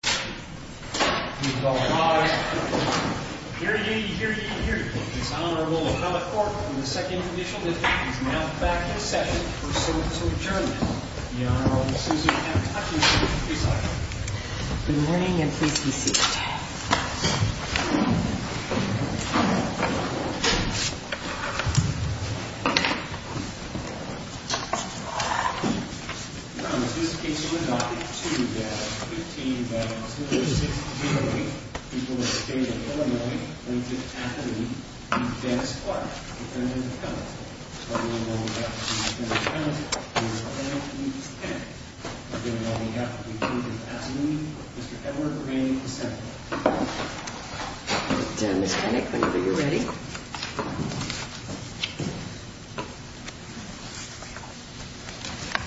The Honorable Susan F. Hutchinson, please sign. Good morning, and please be seated. Your Honor, this case would not be too bad at $15,000. I would like to introduce you to Mr. Dennis Kinnick, who will be presenting the case. Dennis Kinnick, whenever you're ready.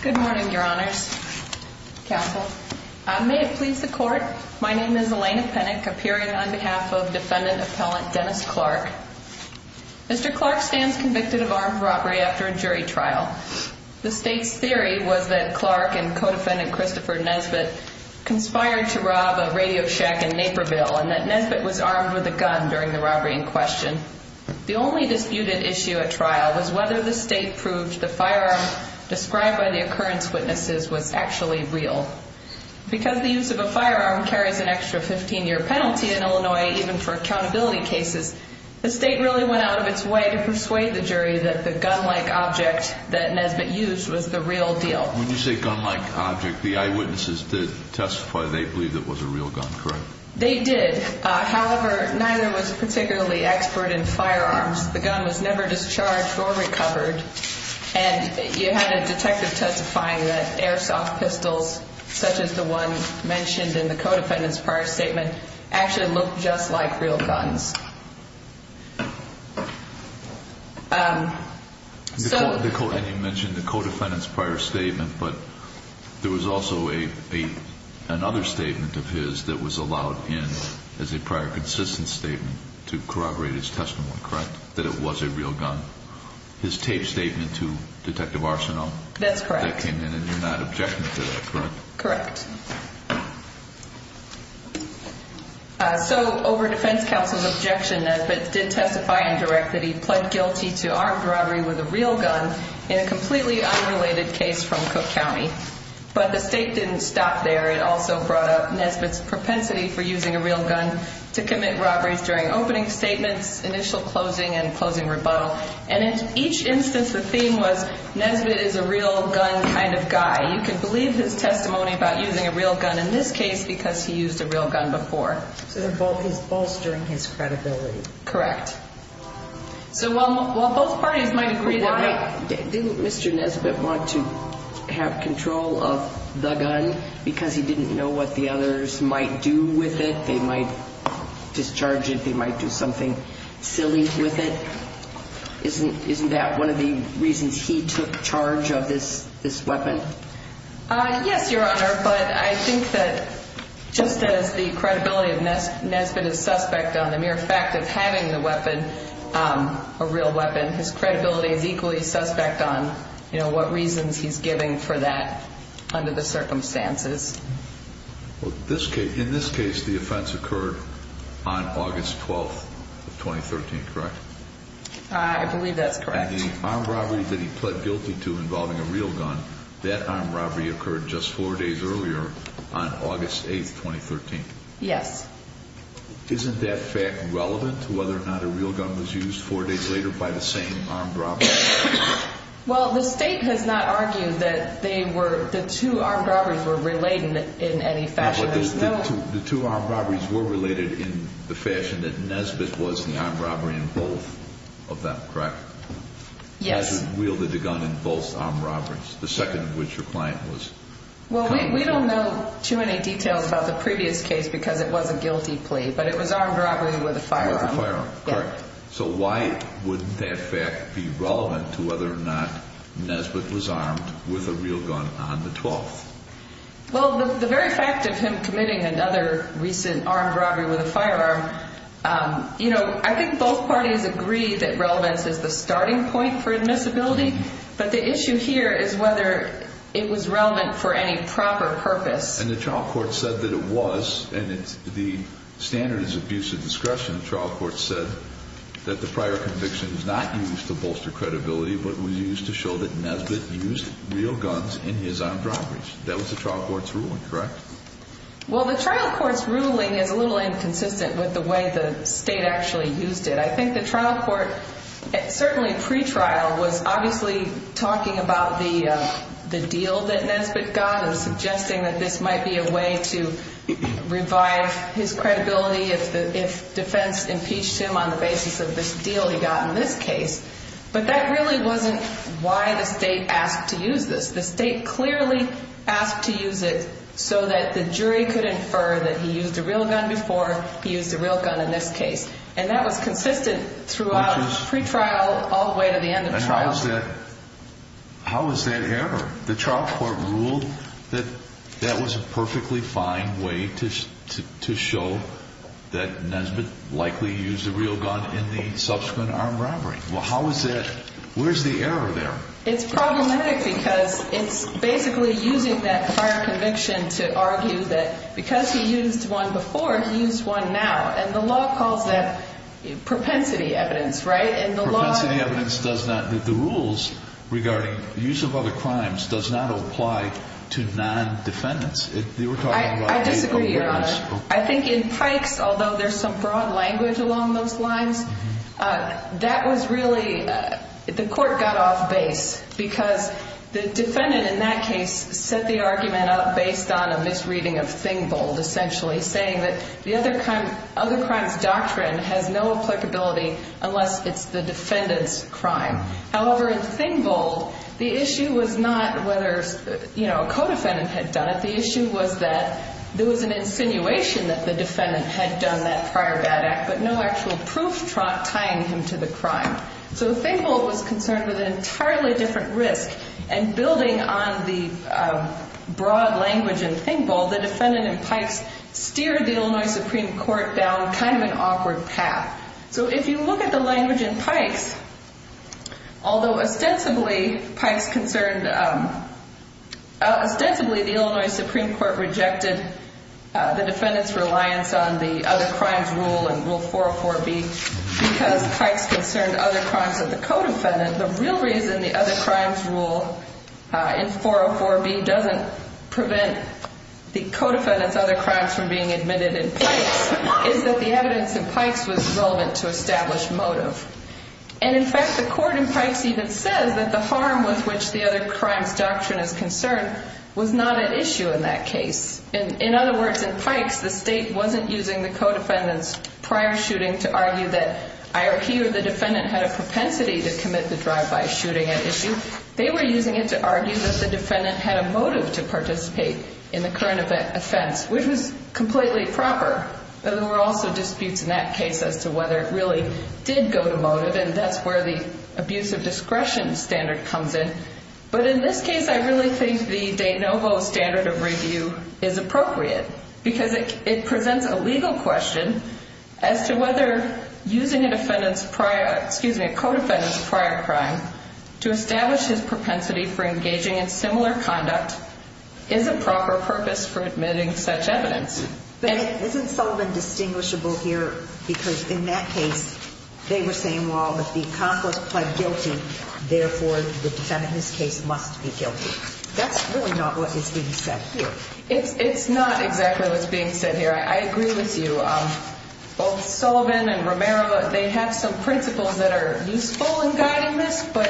Good morning, Your Honors. Counsel, may it please the Court, my name is Elena Kinnick, appearing on behalf of defendant appellant Dennis Clark. Mr. Clark stands convicted of armed robbery after a jury trial. The state's theory was that Clark and co-defendant Christopher Nesbitt conspired to rob a radio shack in Naperville and that Nesbitt was armed with a gun during the robbery in question. The only disputed issue at trial was whether the state proved the firearm described by the occurrence witnesses was actually real. Because the use of a firearm carries an extra 15-year penalty in Illinois, even for accountability cases, the state really went out of its way to persuade the jury that the gun-like object that Nesbitt used was the real deal. When you say gun-like object, the eyewitnesses did testify they believed it was a real gun, correct? They did. However, neither was particularly expert in firearms. The gun was never discharged or recovered. And you had a detective testifying that airsoft pistols, such as the one mentioned in the co-defendant's prior statement, actually looked just like real guns. And you mentioned the co-defendant's prior statement, but there was also another statement of his that was allowed in as a prior consistent statement to corroborate his testimony, correct? That it was a real gun. His taped statement to Detective Arsenault? That's correct. That came in and you're not objecting to that, correct? Correct. So, over defense counsel's objection, Nesbitt did testify in direct that he pled guilty to armed robbery with a real gun in a completely unrelated case from Cook County. But the state didn't stop there. It also brought up Nesbitt's propensity for using a real gun to commit robberies during opening statements, initial closing, and closing rebuttal. And in each instance, the theme was Nesbitt is a real gun kind of guy. You can believe his testimony about using a real gun in this case because he used a real gun before. So, he's bolstering his credibility. Correct. So, while both parties might agree that... Why didn't Mr. Nesbitt want to have control of the gun because he didn't know what the others might do with it? They might discharge it. They might do something silly with it. Isn't that one of the reasons he took charge of this weapon? Yes, Your Honor, but I think that just as the credibility of Nesbitt is suspect on the mere fact of having the weapon, a real weapon, his credibility is equally suspect on, you know, what reasons he's giving for that under the circumstances. In this case, the offense occurred on August 12, 2013, correct? I believe that's correct. The armed robbery that he pled guilty to involving a real gun, that armed robbery occurred just four days earlier on August 8, 2013. Yes. Isn't that fact relevant to whether or not a real gun was used four days later by the same armed robber? Well, the State has not argued that they were, the two armed robberies were related in any fashion. The two armed robberies were related in the fashion that Nesbitt was the armed robber in both of them, correct? Nesbitt wielded the gun in both armed robberies, the second of which your client was. Well, we don't know too many details about the previous case because it was a guilty plea, but it was armed robbery with a firearm. With a firearm, correct. So why would that fact be relevant to whether or not Nesbitt was armed with a real gun on the 12th? Well, the very fact of him committing another recent armed robbery with a firearm, you know, I think both parties agree that relevance is the starting point for admissibility, but the issue here is whether it was relevant for any proper purpose. And the trial court said that it was, and the standard is abuse of discretion. The trial court said that the prior conviction was not used to bolster credibility, but was used to show that Nesbitt used real guns in his armed robberies. That was the trial court's ruling, correct? Well, the trial court's ruling is a little inconsistent with the way the state actually used it. I think the trial court, certainly pretrial, was obviously talking about the deal that Nesbitt got and suggesting that this might be a way to revive his credibility if defense impeached him on the basis of this deal he got in this case. But that really wasn't why the state asked to use this. The state clearly asked to use it so that the jury could infer that he used a real gun before he used a real gun in this case. And that was consistent throughout pretrial all the way to the end of trial. How is that error? The trial court ruled that that was a perfectly fine way to show that Nesbitt likely used a real gun in the subsequent armed robbery. Well, how is that? Where's the error there? It's problematic because it's basically using that prior conviction to argue that because he used one before, he used one now. And the law calls that propensity evidence, right? Propensity evidence does not – the rules regarding use of other crimes does not apply to non-defendants. I disagree, Your Honor. I think in Pike's, although there's some broad language along those lines, that was really – the court got off base because the defendant in that case set the argument up based on a misreading of Thing Bold, essentially, saying that the other crime's doctrine has no applicability unless it's the defendant's crime. However, in Thing Bold, the issue was not whether, you know, a co-defendant had done it. The issue was that there was an insinuation that the defendant had done that prior bad act, but no actual proof tying him to the crime. So Thing Bold was concerned with an entirely different risk, and building on the broad language in Thing Bold, the defendant in Pike's steered the Illinois Supreme Court down kind of an awkward path. So if you look at the language in Pike's, although ostensibly Pike's concerned – ostensibly the Illinois Supreme Court rejected the defendant's reliance on the other crimes rule in Rule 404B because Pike's concerned other crimes of the co-defendant. The real reason the other crimes rule in 404B doesn't prevent the co-defendant's other crimes from being admitted in Pike's is that the evidence in Pike's was relevant to establish motive. And in fact, the court in Pike's even says that the harm with which the other crimes doctrine is concerned was not at issue in that case. In other words, in Pike's, the state wasn't using the co-defendant's prior shooting to argue that he or the defendant had a propensity to commit the drive-by shooting at issue. They were using it to argue that the defendant had a motive to participate in the current offense, which was completely proper. There were also disputes in that case as to whether it really did go to motive, and that's where the abuse of discretion standard comes in. But in this case, I really think the de novo standard of review is appropriate because it presents a legal question as to whether using a defendant's prior – excuse me, a co-defendant's prior crime to establish his propensity for engaging in similar conduct is a proper purpose for admitting such evidence. And isn't Sullivan distinguishable here because in that case they were saying, well, if the accomplice pled guilty, therefore the defendant in this case must be guilty? That's really not what is being said here. It's not exactly what's being said here. I agree with you. Both Sullivan and Romero, they have some principles that are useful in guiding this, but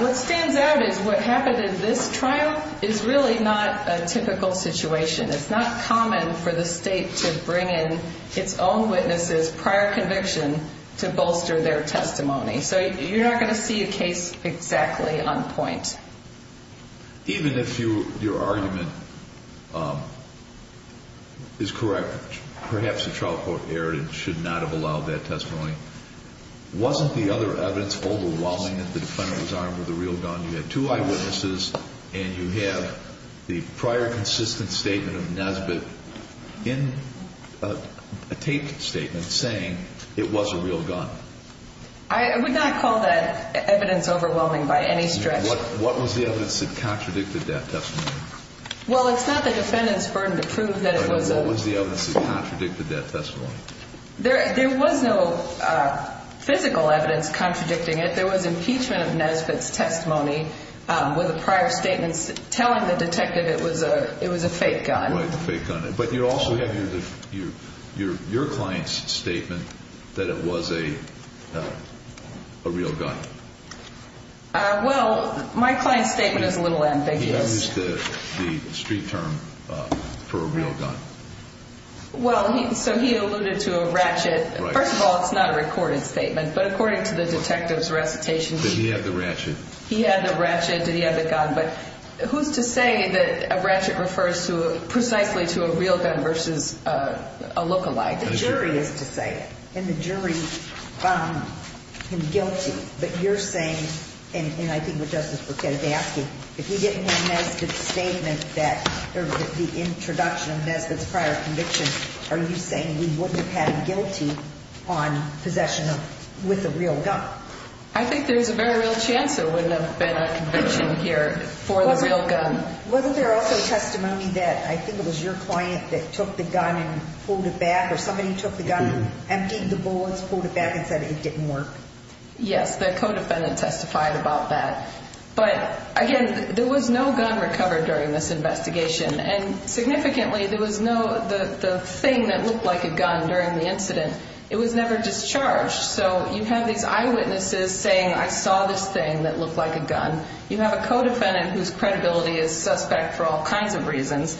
what stands out is what happened in this trial is really not a typical situation. It's not common for the state to bring in its own witnesses' prior conviction to bolster their testimony. So you're not going to see a case exactly on point. Even if your argument is correct, perhaps the trial court erred and should not have allowed that testimony, wasn't the other evidence overwhelming that the defendant was armed with a real gun? You had two eyewitnesses and you have the prior consistent statement of Nesbitt in a taped statement saying it was a real gun. I would not call that evidence overwhelming by any stretch. What was the evidence that contradicted that testimony? Well, it's not the defendant's burden to prove that it was a – What was the evidence that contradicted that testimony? There was no physical evidence contradicting it. There was impeachment of Nesbitt's testimony with the prior statements telling the detective it was a fake gun. Right, a fake gun. But you also have your client's statement that it was a real gun. Well, my client's statement is a little ambiguous. He used the street term for a real gun. Well, so he alluded to a ratchet. First of all, it's not a recorded statement. But according to the detective's recitation – Did he have the ratchet? He had the ratchet. Did he have the gun? But who's to say that a ratchet refers precisely to a real gun versus a look-a-like? The jury is to say it. And the jury found him guilty. But you're saying, and I think what Justice Bruchette is asking, if he didn't have Nesbitt's statement that – or the introduction of Nesbitt's prior conviction, are you saying he wouldn't have had him guilty on possession with a real gun? I think there's a very real chance there wouldn't have been a conviction here for the real gun. Wasn't there also testimony that I think it was your client that took the gun and pulled it back, or somebody took the gun, emptied the bullets, pulled it back, and said it didn't work? Yes, the co-defendant testified about that. But, again, there was no gun recovered during this investigation. And significantly, there was no thing that looked like a gun during the incident. It was never discharged. So you have these eyewitnesses saying, I saw this thing that looked like a gun. You have a co-defendant whose credibility is suspect for all kinds of reasons.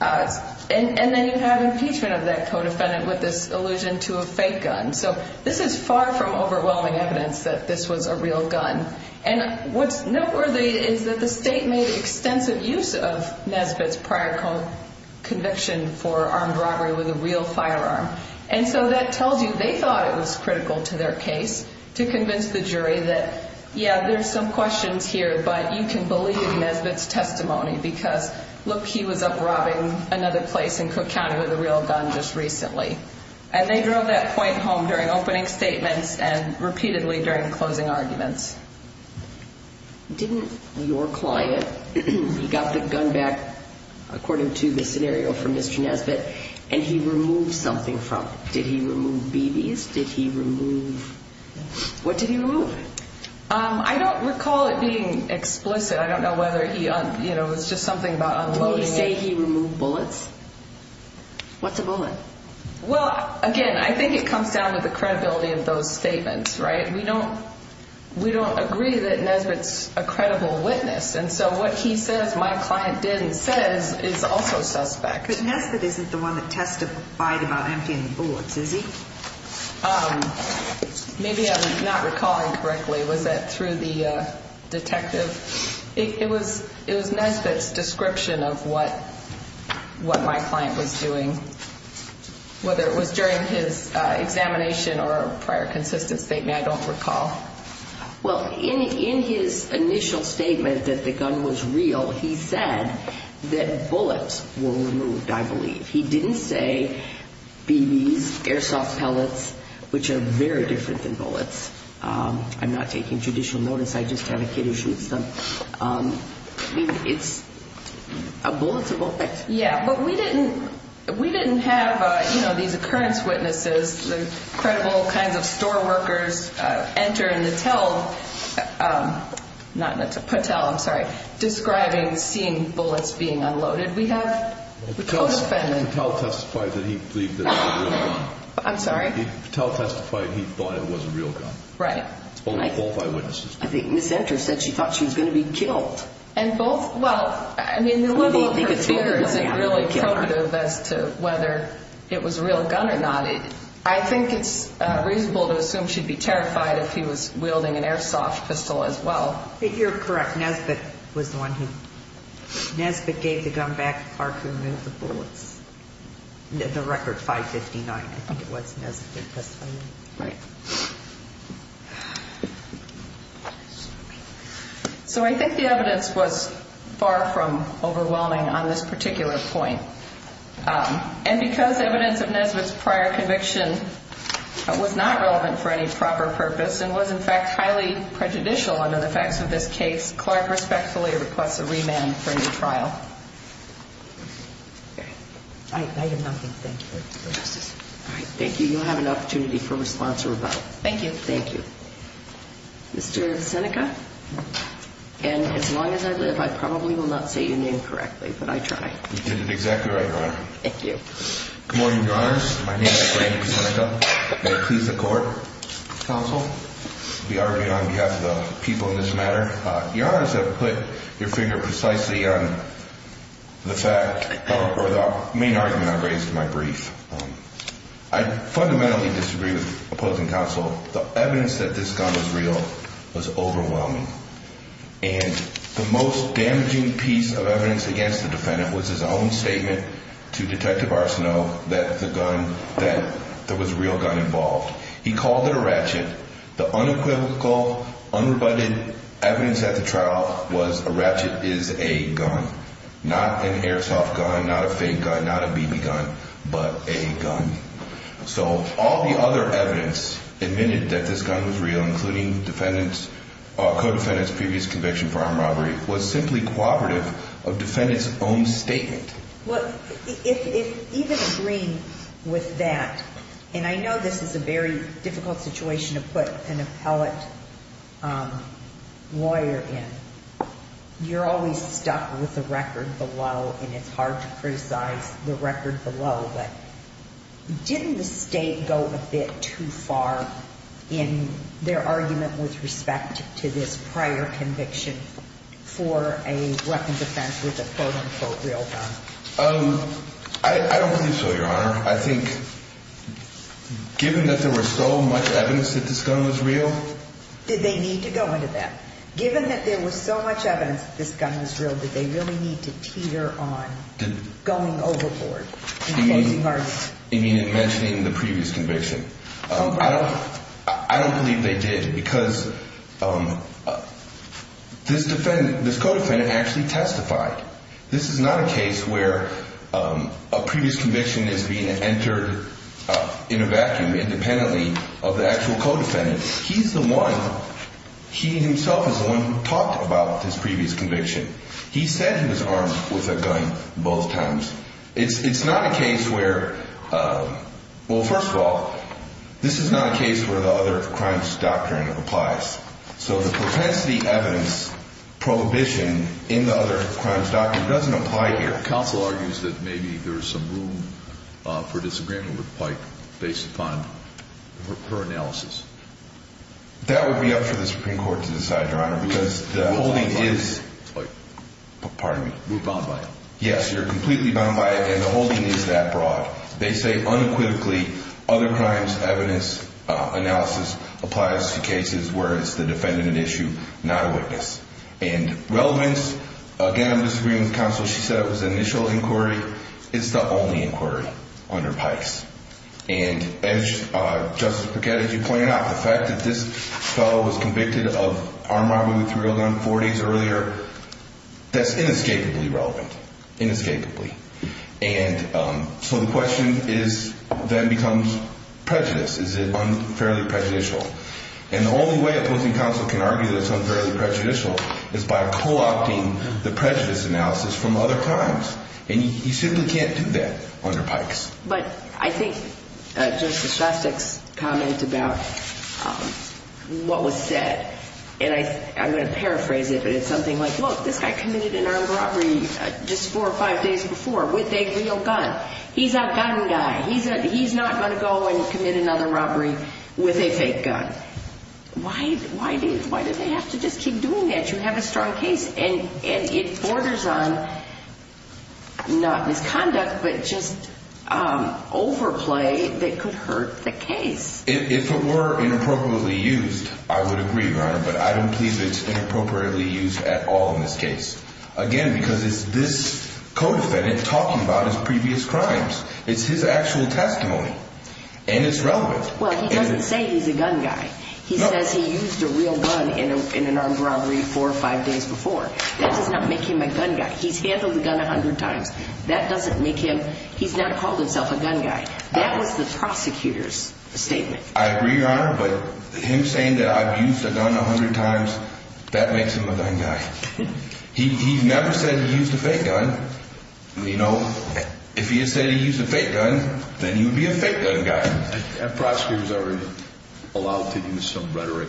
And then you have impeachment of that co-defendant with this allusion to a fake gun. So this is far from overwhelming evidence that this was a real gun. And what's noteworthy is that the state made extensive use of Nesbitt's prior conviction for armed robbery with a real firearm. And so that tells you they thought it was critical to their case to convince the jury that, yeah, there's some questions here, but you can believe Nesbitt's testimony because, look, he was up robbing another place in Cook County with a real gun just recently. And they drove that point home during opening statements and repeatedly during closing arguments. Didn't your client, he got the gun back, according to the scenario from Mr. Nesbitt, and he removed something from it? Did he remove BBs? Did he remove, what did he remove? I don't recall it being explicit. I don't know whether he, you know, it was just something about unloading it. Did he say he removed bullets? What's a bullet? Well, again, I think it comes down to the credibility of those statements, right? We don't agree that Nesbitt's a credible witness. And so what he says my client did and says is also suspect. But Nesbitt isn't the one that testified about emptying the bullets, is he? Maybe I'm not recalling correctly. Was that through the detective? It was Nesbitt's description of what my client was doing, whether it was during his examination or prior consistent statement, I don't recall. Well, in his initial statement that the gun was real, he said that bullets were removed, I believe. He didn't say BBs, airsoft pellets, which are very different than bullets. I'm not taking judicial notice. I just have a kid who shoots them. I mean, it's a bullet's a bullet. Yeah, but we didn't have, you know, these occurrence witnesses, the credible kinds of store workers enter and tell, not tell, Patel, I'm sorry, describing seeing bullets being unloaded. We have the codefendant. Patel testified that he believed it was a real gun. I'm sorry? Patel testified he thought it was a real gun. Right. Both eyewitnesses. I think Ms. Enter said she thought she was going to be killed. And both, well, I mean, the level of her fear isn't really cognitive as to whether it was a real gun or not. I think it's reasonable to assume she'd be terrified if he was wielding an airsoft pistol as well. You're correct. Nesbitt was the one who, Nesbitt gave the gun back. Clark removed the bullets. The record, 559, I think it was Nesbitt testifying. Right. So I think the evidence was far from overwhelming on this particular point. And because evidence of Nesbitt's prior conviction was not relevant for any proper purpose and was, in fact, highly prejudicial under the facts of this case, Clark respectfully requests a remand for any trial. I hear nothing. Thank you. All right. Thank you. You'll have an opportunity for response or rebuttal. Thank you. Thank you. Mr. Visenica, and as long as I live, I probably will not say your name correctly, but I try. You did it exactly right, Your Honor. Thank you. Good morning, Your Honors. My name is Brandon Visenica. May it please the court, counsel, be argued on behalf of the people in this matter. Your Honors have put your finger precisely on the fact or the main argument I've raised in my brief. I fundamentally disagree with opposing counsel. The evidence that this gun was real was overwhelming. And the most damaging piece of evidence against the defendant was his own statement to Detective Arsenault that the gun, that there was a real gun involved. He called it a ratchet. The unequivocal, unrebutted evidence at the trial was a ratchet is a gun, not an airsoft gun, not a fake gun, not a BB gun, but a gun. So all the other evidence admitted that this gun was real, including defendant's, co-defendant's previous conviction for armed robbery, was simply cooperative of defendant's own statement. Well, if even agreeing with that, and I know this is a very difficult situation to put an appellate lawyer in. You're always stuck with the record below, and it's hard to criticize the record below. But didn't the state go a bit too far in their argument with respect to this prior conviction for a weapons offense with a quote unquote real gun? I don't think so, Your Honor. I think given that there was so much evidence that this gun was real. Did they need to go into that? Given that there was so much evidence that this gun was real, did they really need to teeter on going overboard? You mean in mentioning the previous conviction? I don't believe they did because this defendant, this co-defendant actually testified. This is not a case where a previous conviction is being entered in a vacuum independently of the actual co-defendant. He's the one, he himself is the one who talked about this previous conviction. He said he was armed with a gun both times. It's not a case where, well, first of all, this is not a case where the other crimes doctrine applies. So the propensity evidence prohibition in the other crimes doctrine doesn't apply here. Counsel argues that maybe there is some room for disagreement with Pike based upon her analysis. That would be up for the Supreme Court to decide, Your Honor, because the holding is. Pardon me, we're bound by it. Yes, you're completely bound by it, and the holding is that broad. They say unequivocally other crimes evidence analysis applies to cases where it's the defendant at issue, not a witness. And relevance, again, I'm disagreeing with counsel. She said it was an initial inquiry. It's the only inquiry under Pikes. And as Justice Paquette, as you pointed out, the fact that this fellow was convicted of armed robbery with a real gun four days earlier, that's inescapably relevant, inescapably. And so the question is then becomes prejudice. Is it unfairly prejudicial? And the only way opposing counsel can argue that it's unfairly prejudicial is by co-opting the prejudice analysis from other crimes. And you simply can't do that under Pikes. But I think Justice Shostak's comment about what was said, and I'm going to paraphrase it, but it's something like, look, this guy committed an armed robbery just four or five days before with a real gun. He's a gun guy. He's not going to go and commit another robbery with a fake gun. Why do they have to just keep doing that? You have a strong case. And it borders on not misconduct, but just overplay that could hurt the case. If it were inappropriately used, I would agree, Your Honor, but I don't believe it's inappropriately used at all in this case. Again, because it's this co-defendant talking about his previous crimes. It's his actual testimony. And it's relevant. Well, he doesn't say he's a gun guy. He says he used a real gun in an armed robbery four or five days before. That does not make him a gun guy. He's handled a gun a hundred times. That doesn't make him – he's not called himself a gun guy. That was the prosecutor's statement. I agree, Your Honor, but him saying that I've used a gun a hundred times, that makes him a gun guy. He never said he used a fake gun. You know, if he had said he used a fake gun, then he would be a fake gun guy. Have prosecutors ever allowed to use some rhetoric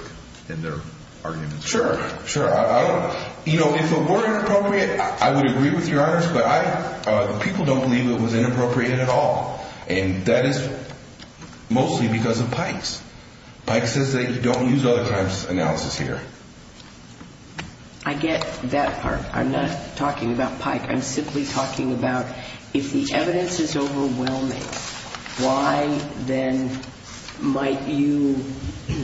in their arguments? Sure, sure. I don't – you know, if it were inappropriate, I would agree with Your Honors, but I – people don't believe it was inappropriate at all. And that is mostly because of Pike's. Pike says that you don't use other crimes analysis here. I'm not talking about Pike. I'm simply talking about if the evidence is overwhelming, why then might you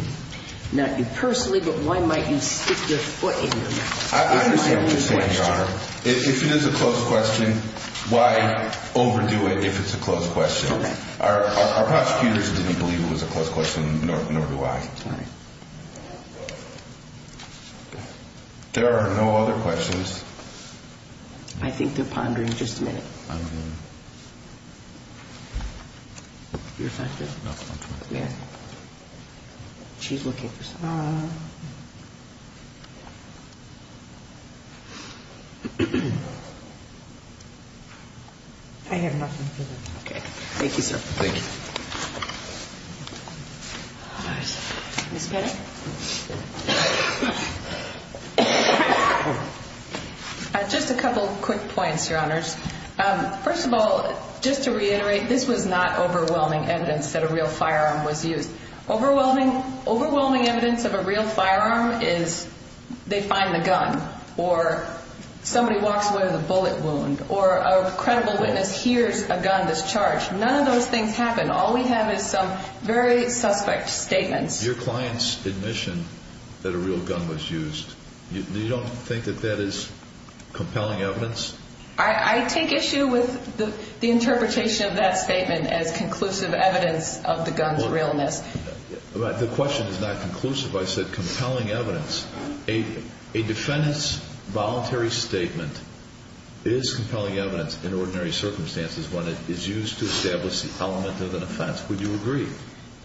– not you personally, but why might you stick your foot in there? I understand what you're saying, Your Honor. If it is a closed question, why overdo it if it's a closed question? Our prosecutors didn't believe it was a closed question, nor do I. All right. There are no other questions. I think they're pondering just a minute. I don't know. You're effective. No, it's my turn. Yeah. She's looking for something. I have nothing. Okay. Thank you, sir. Thank you. All right. Ms. Pettit? Just a couple quick points, Your Honors. First of all, just to reiterate, this was not overwhelming evidence that a real firearm was used. Overwhelming evidence of a real firearm is they find the gun or somebody walks away with a bullet wound or a credible witness hears a gun that's charged. None of those things happen. All we have is some very suspect statements. Your clients' admission that a real gun was used, you don't think that that is compelling evidence? I take issue with the interpretation of that statement as conclusive evidence of the gun's realness. The question is not conclusive. I said compelling evidence. A defendant's voluntary statement is compelling evidence in ordinary circumstances when it is used to establish the element of an offense. Would you agree?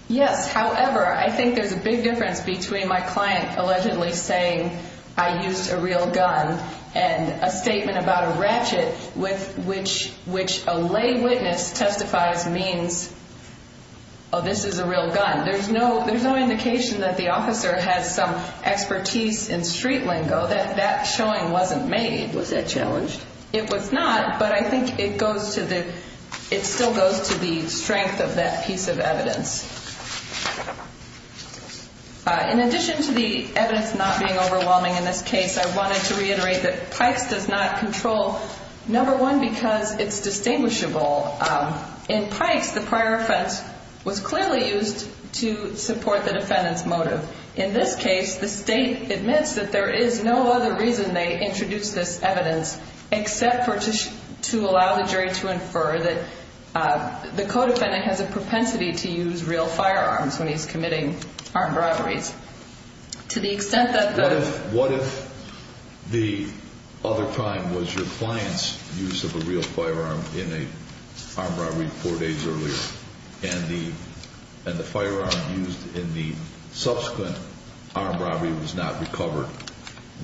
Yes. However, I think there's a big difference between my client allegedly saying, I used a real gun and a statement about a ratchet with which a lay witness testifies means, oh, this is a real gun. There's no indication that the officer has some expertise in street lingo. That showing wasn't made. Was that challenged? It was not, but I think it goes to the – it still goes to the strength of that piece of evidence. In addition to the evidence not being overwhelming in this case, I wanted to reiterate that Pikes does not control, number one, because it's distinguishable. In Pikes, the prior offense was clearly used to support the defendant's motive. In this case, the state admits that there is no other reason they introduced this evidence except to allow the jury to infer that the co-defendant has a propensity to use real firearms when he's committing armed robberies. To the extent that the – What if the other crime was your client's use of a real firearm in an armed robbery four days earlier and the firearm used in the subsequent armed robbery was not recovered,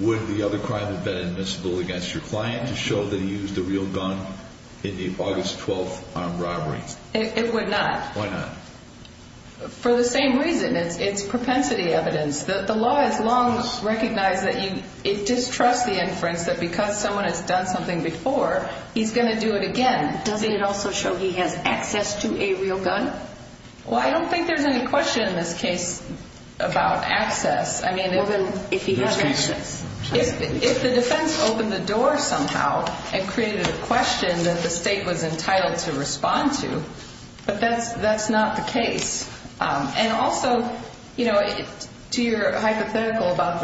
would the other crime have been admissible against your client to show that he used a real gun in the August 12 armed robbery? It would not. Why not? For the same reason. It's propensity evidence. The law has long recognized that you – it distrusts the inference that because someone has done something before, he's going to do it again. Doesn't it also show he has access to a real gun? Well, I don't think there's any question in this case about access. More than if he has access. If the defense opened the door somehow and created a question that the state was entitled to respond to, but that's not the case. And also, you know, to your hypothetical about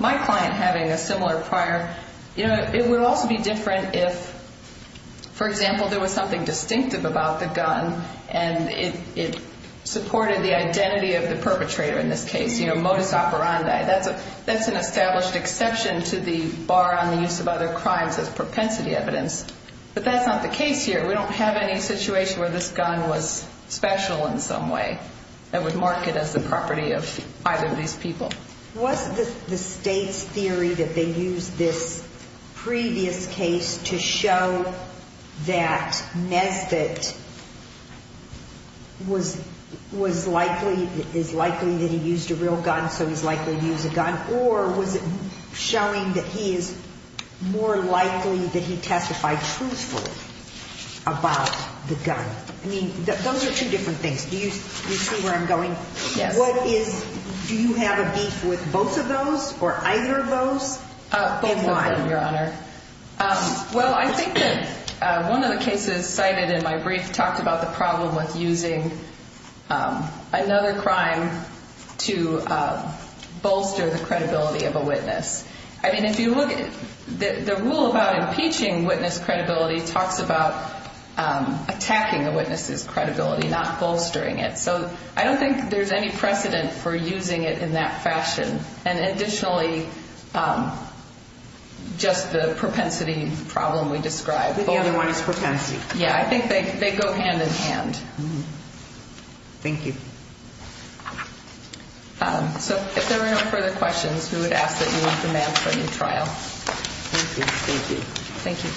my client having a similar prior, you know, it would also be different if, for example, there was something distinctive about the gun and it supported the identity of the perpetrator in this case. You know, modus operandi. That's an established exception to the bar on the use of other crimes as propensity evidence. But that's not the case here. We don't have any situation where this gun was special in some way that would mark it as the property of either of these people. Was the state's theory that they used this previous case to show that Nesbitt was likely – is likely that he used a real gun, so he's likely to use a gun, or was it showing that he is more likely that he testified truthfully about the gun? I mean, those are two different things. Do you see where I'm going? Yes. What is – do you have a beef with both of those, or either of those, and why? Both of them, Your Honor. Well, I think that one of the cases cited in my brief talked about the problem with using another crime to bolster the credibility of a witness. I mean, if you look – the rule about impeaching witness credibility talks about attacking a witness's credibility, not bolstering it. So I don't think there's any precedent for using it in that fashion. And additionally, just the propensity problem we described. The other one is propensity. Yeah. I think they go hand in hand. Thank you. So if there are no further questions, we would ask that you leave the mat for your trial. Thank you. Thank you. Thank you.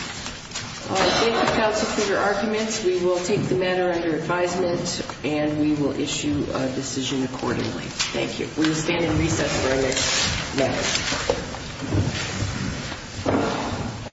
Thank you, counsel, for your arguments. We will take the matter under advisement, and we will issue a decision accordingly. Thank you. We will stand in recess for our next meeting.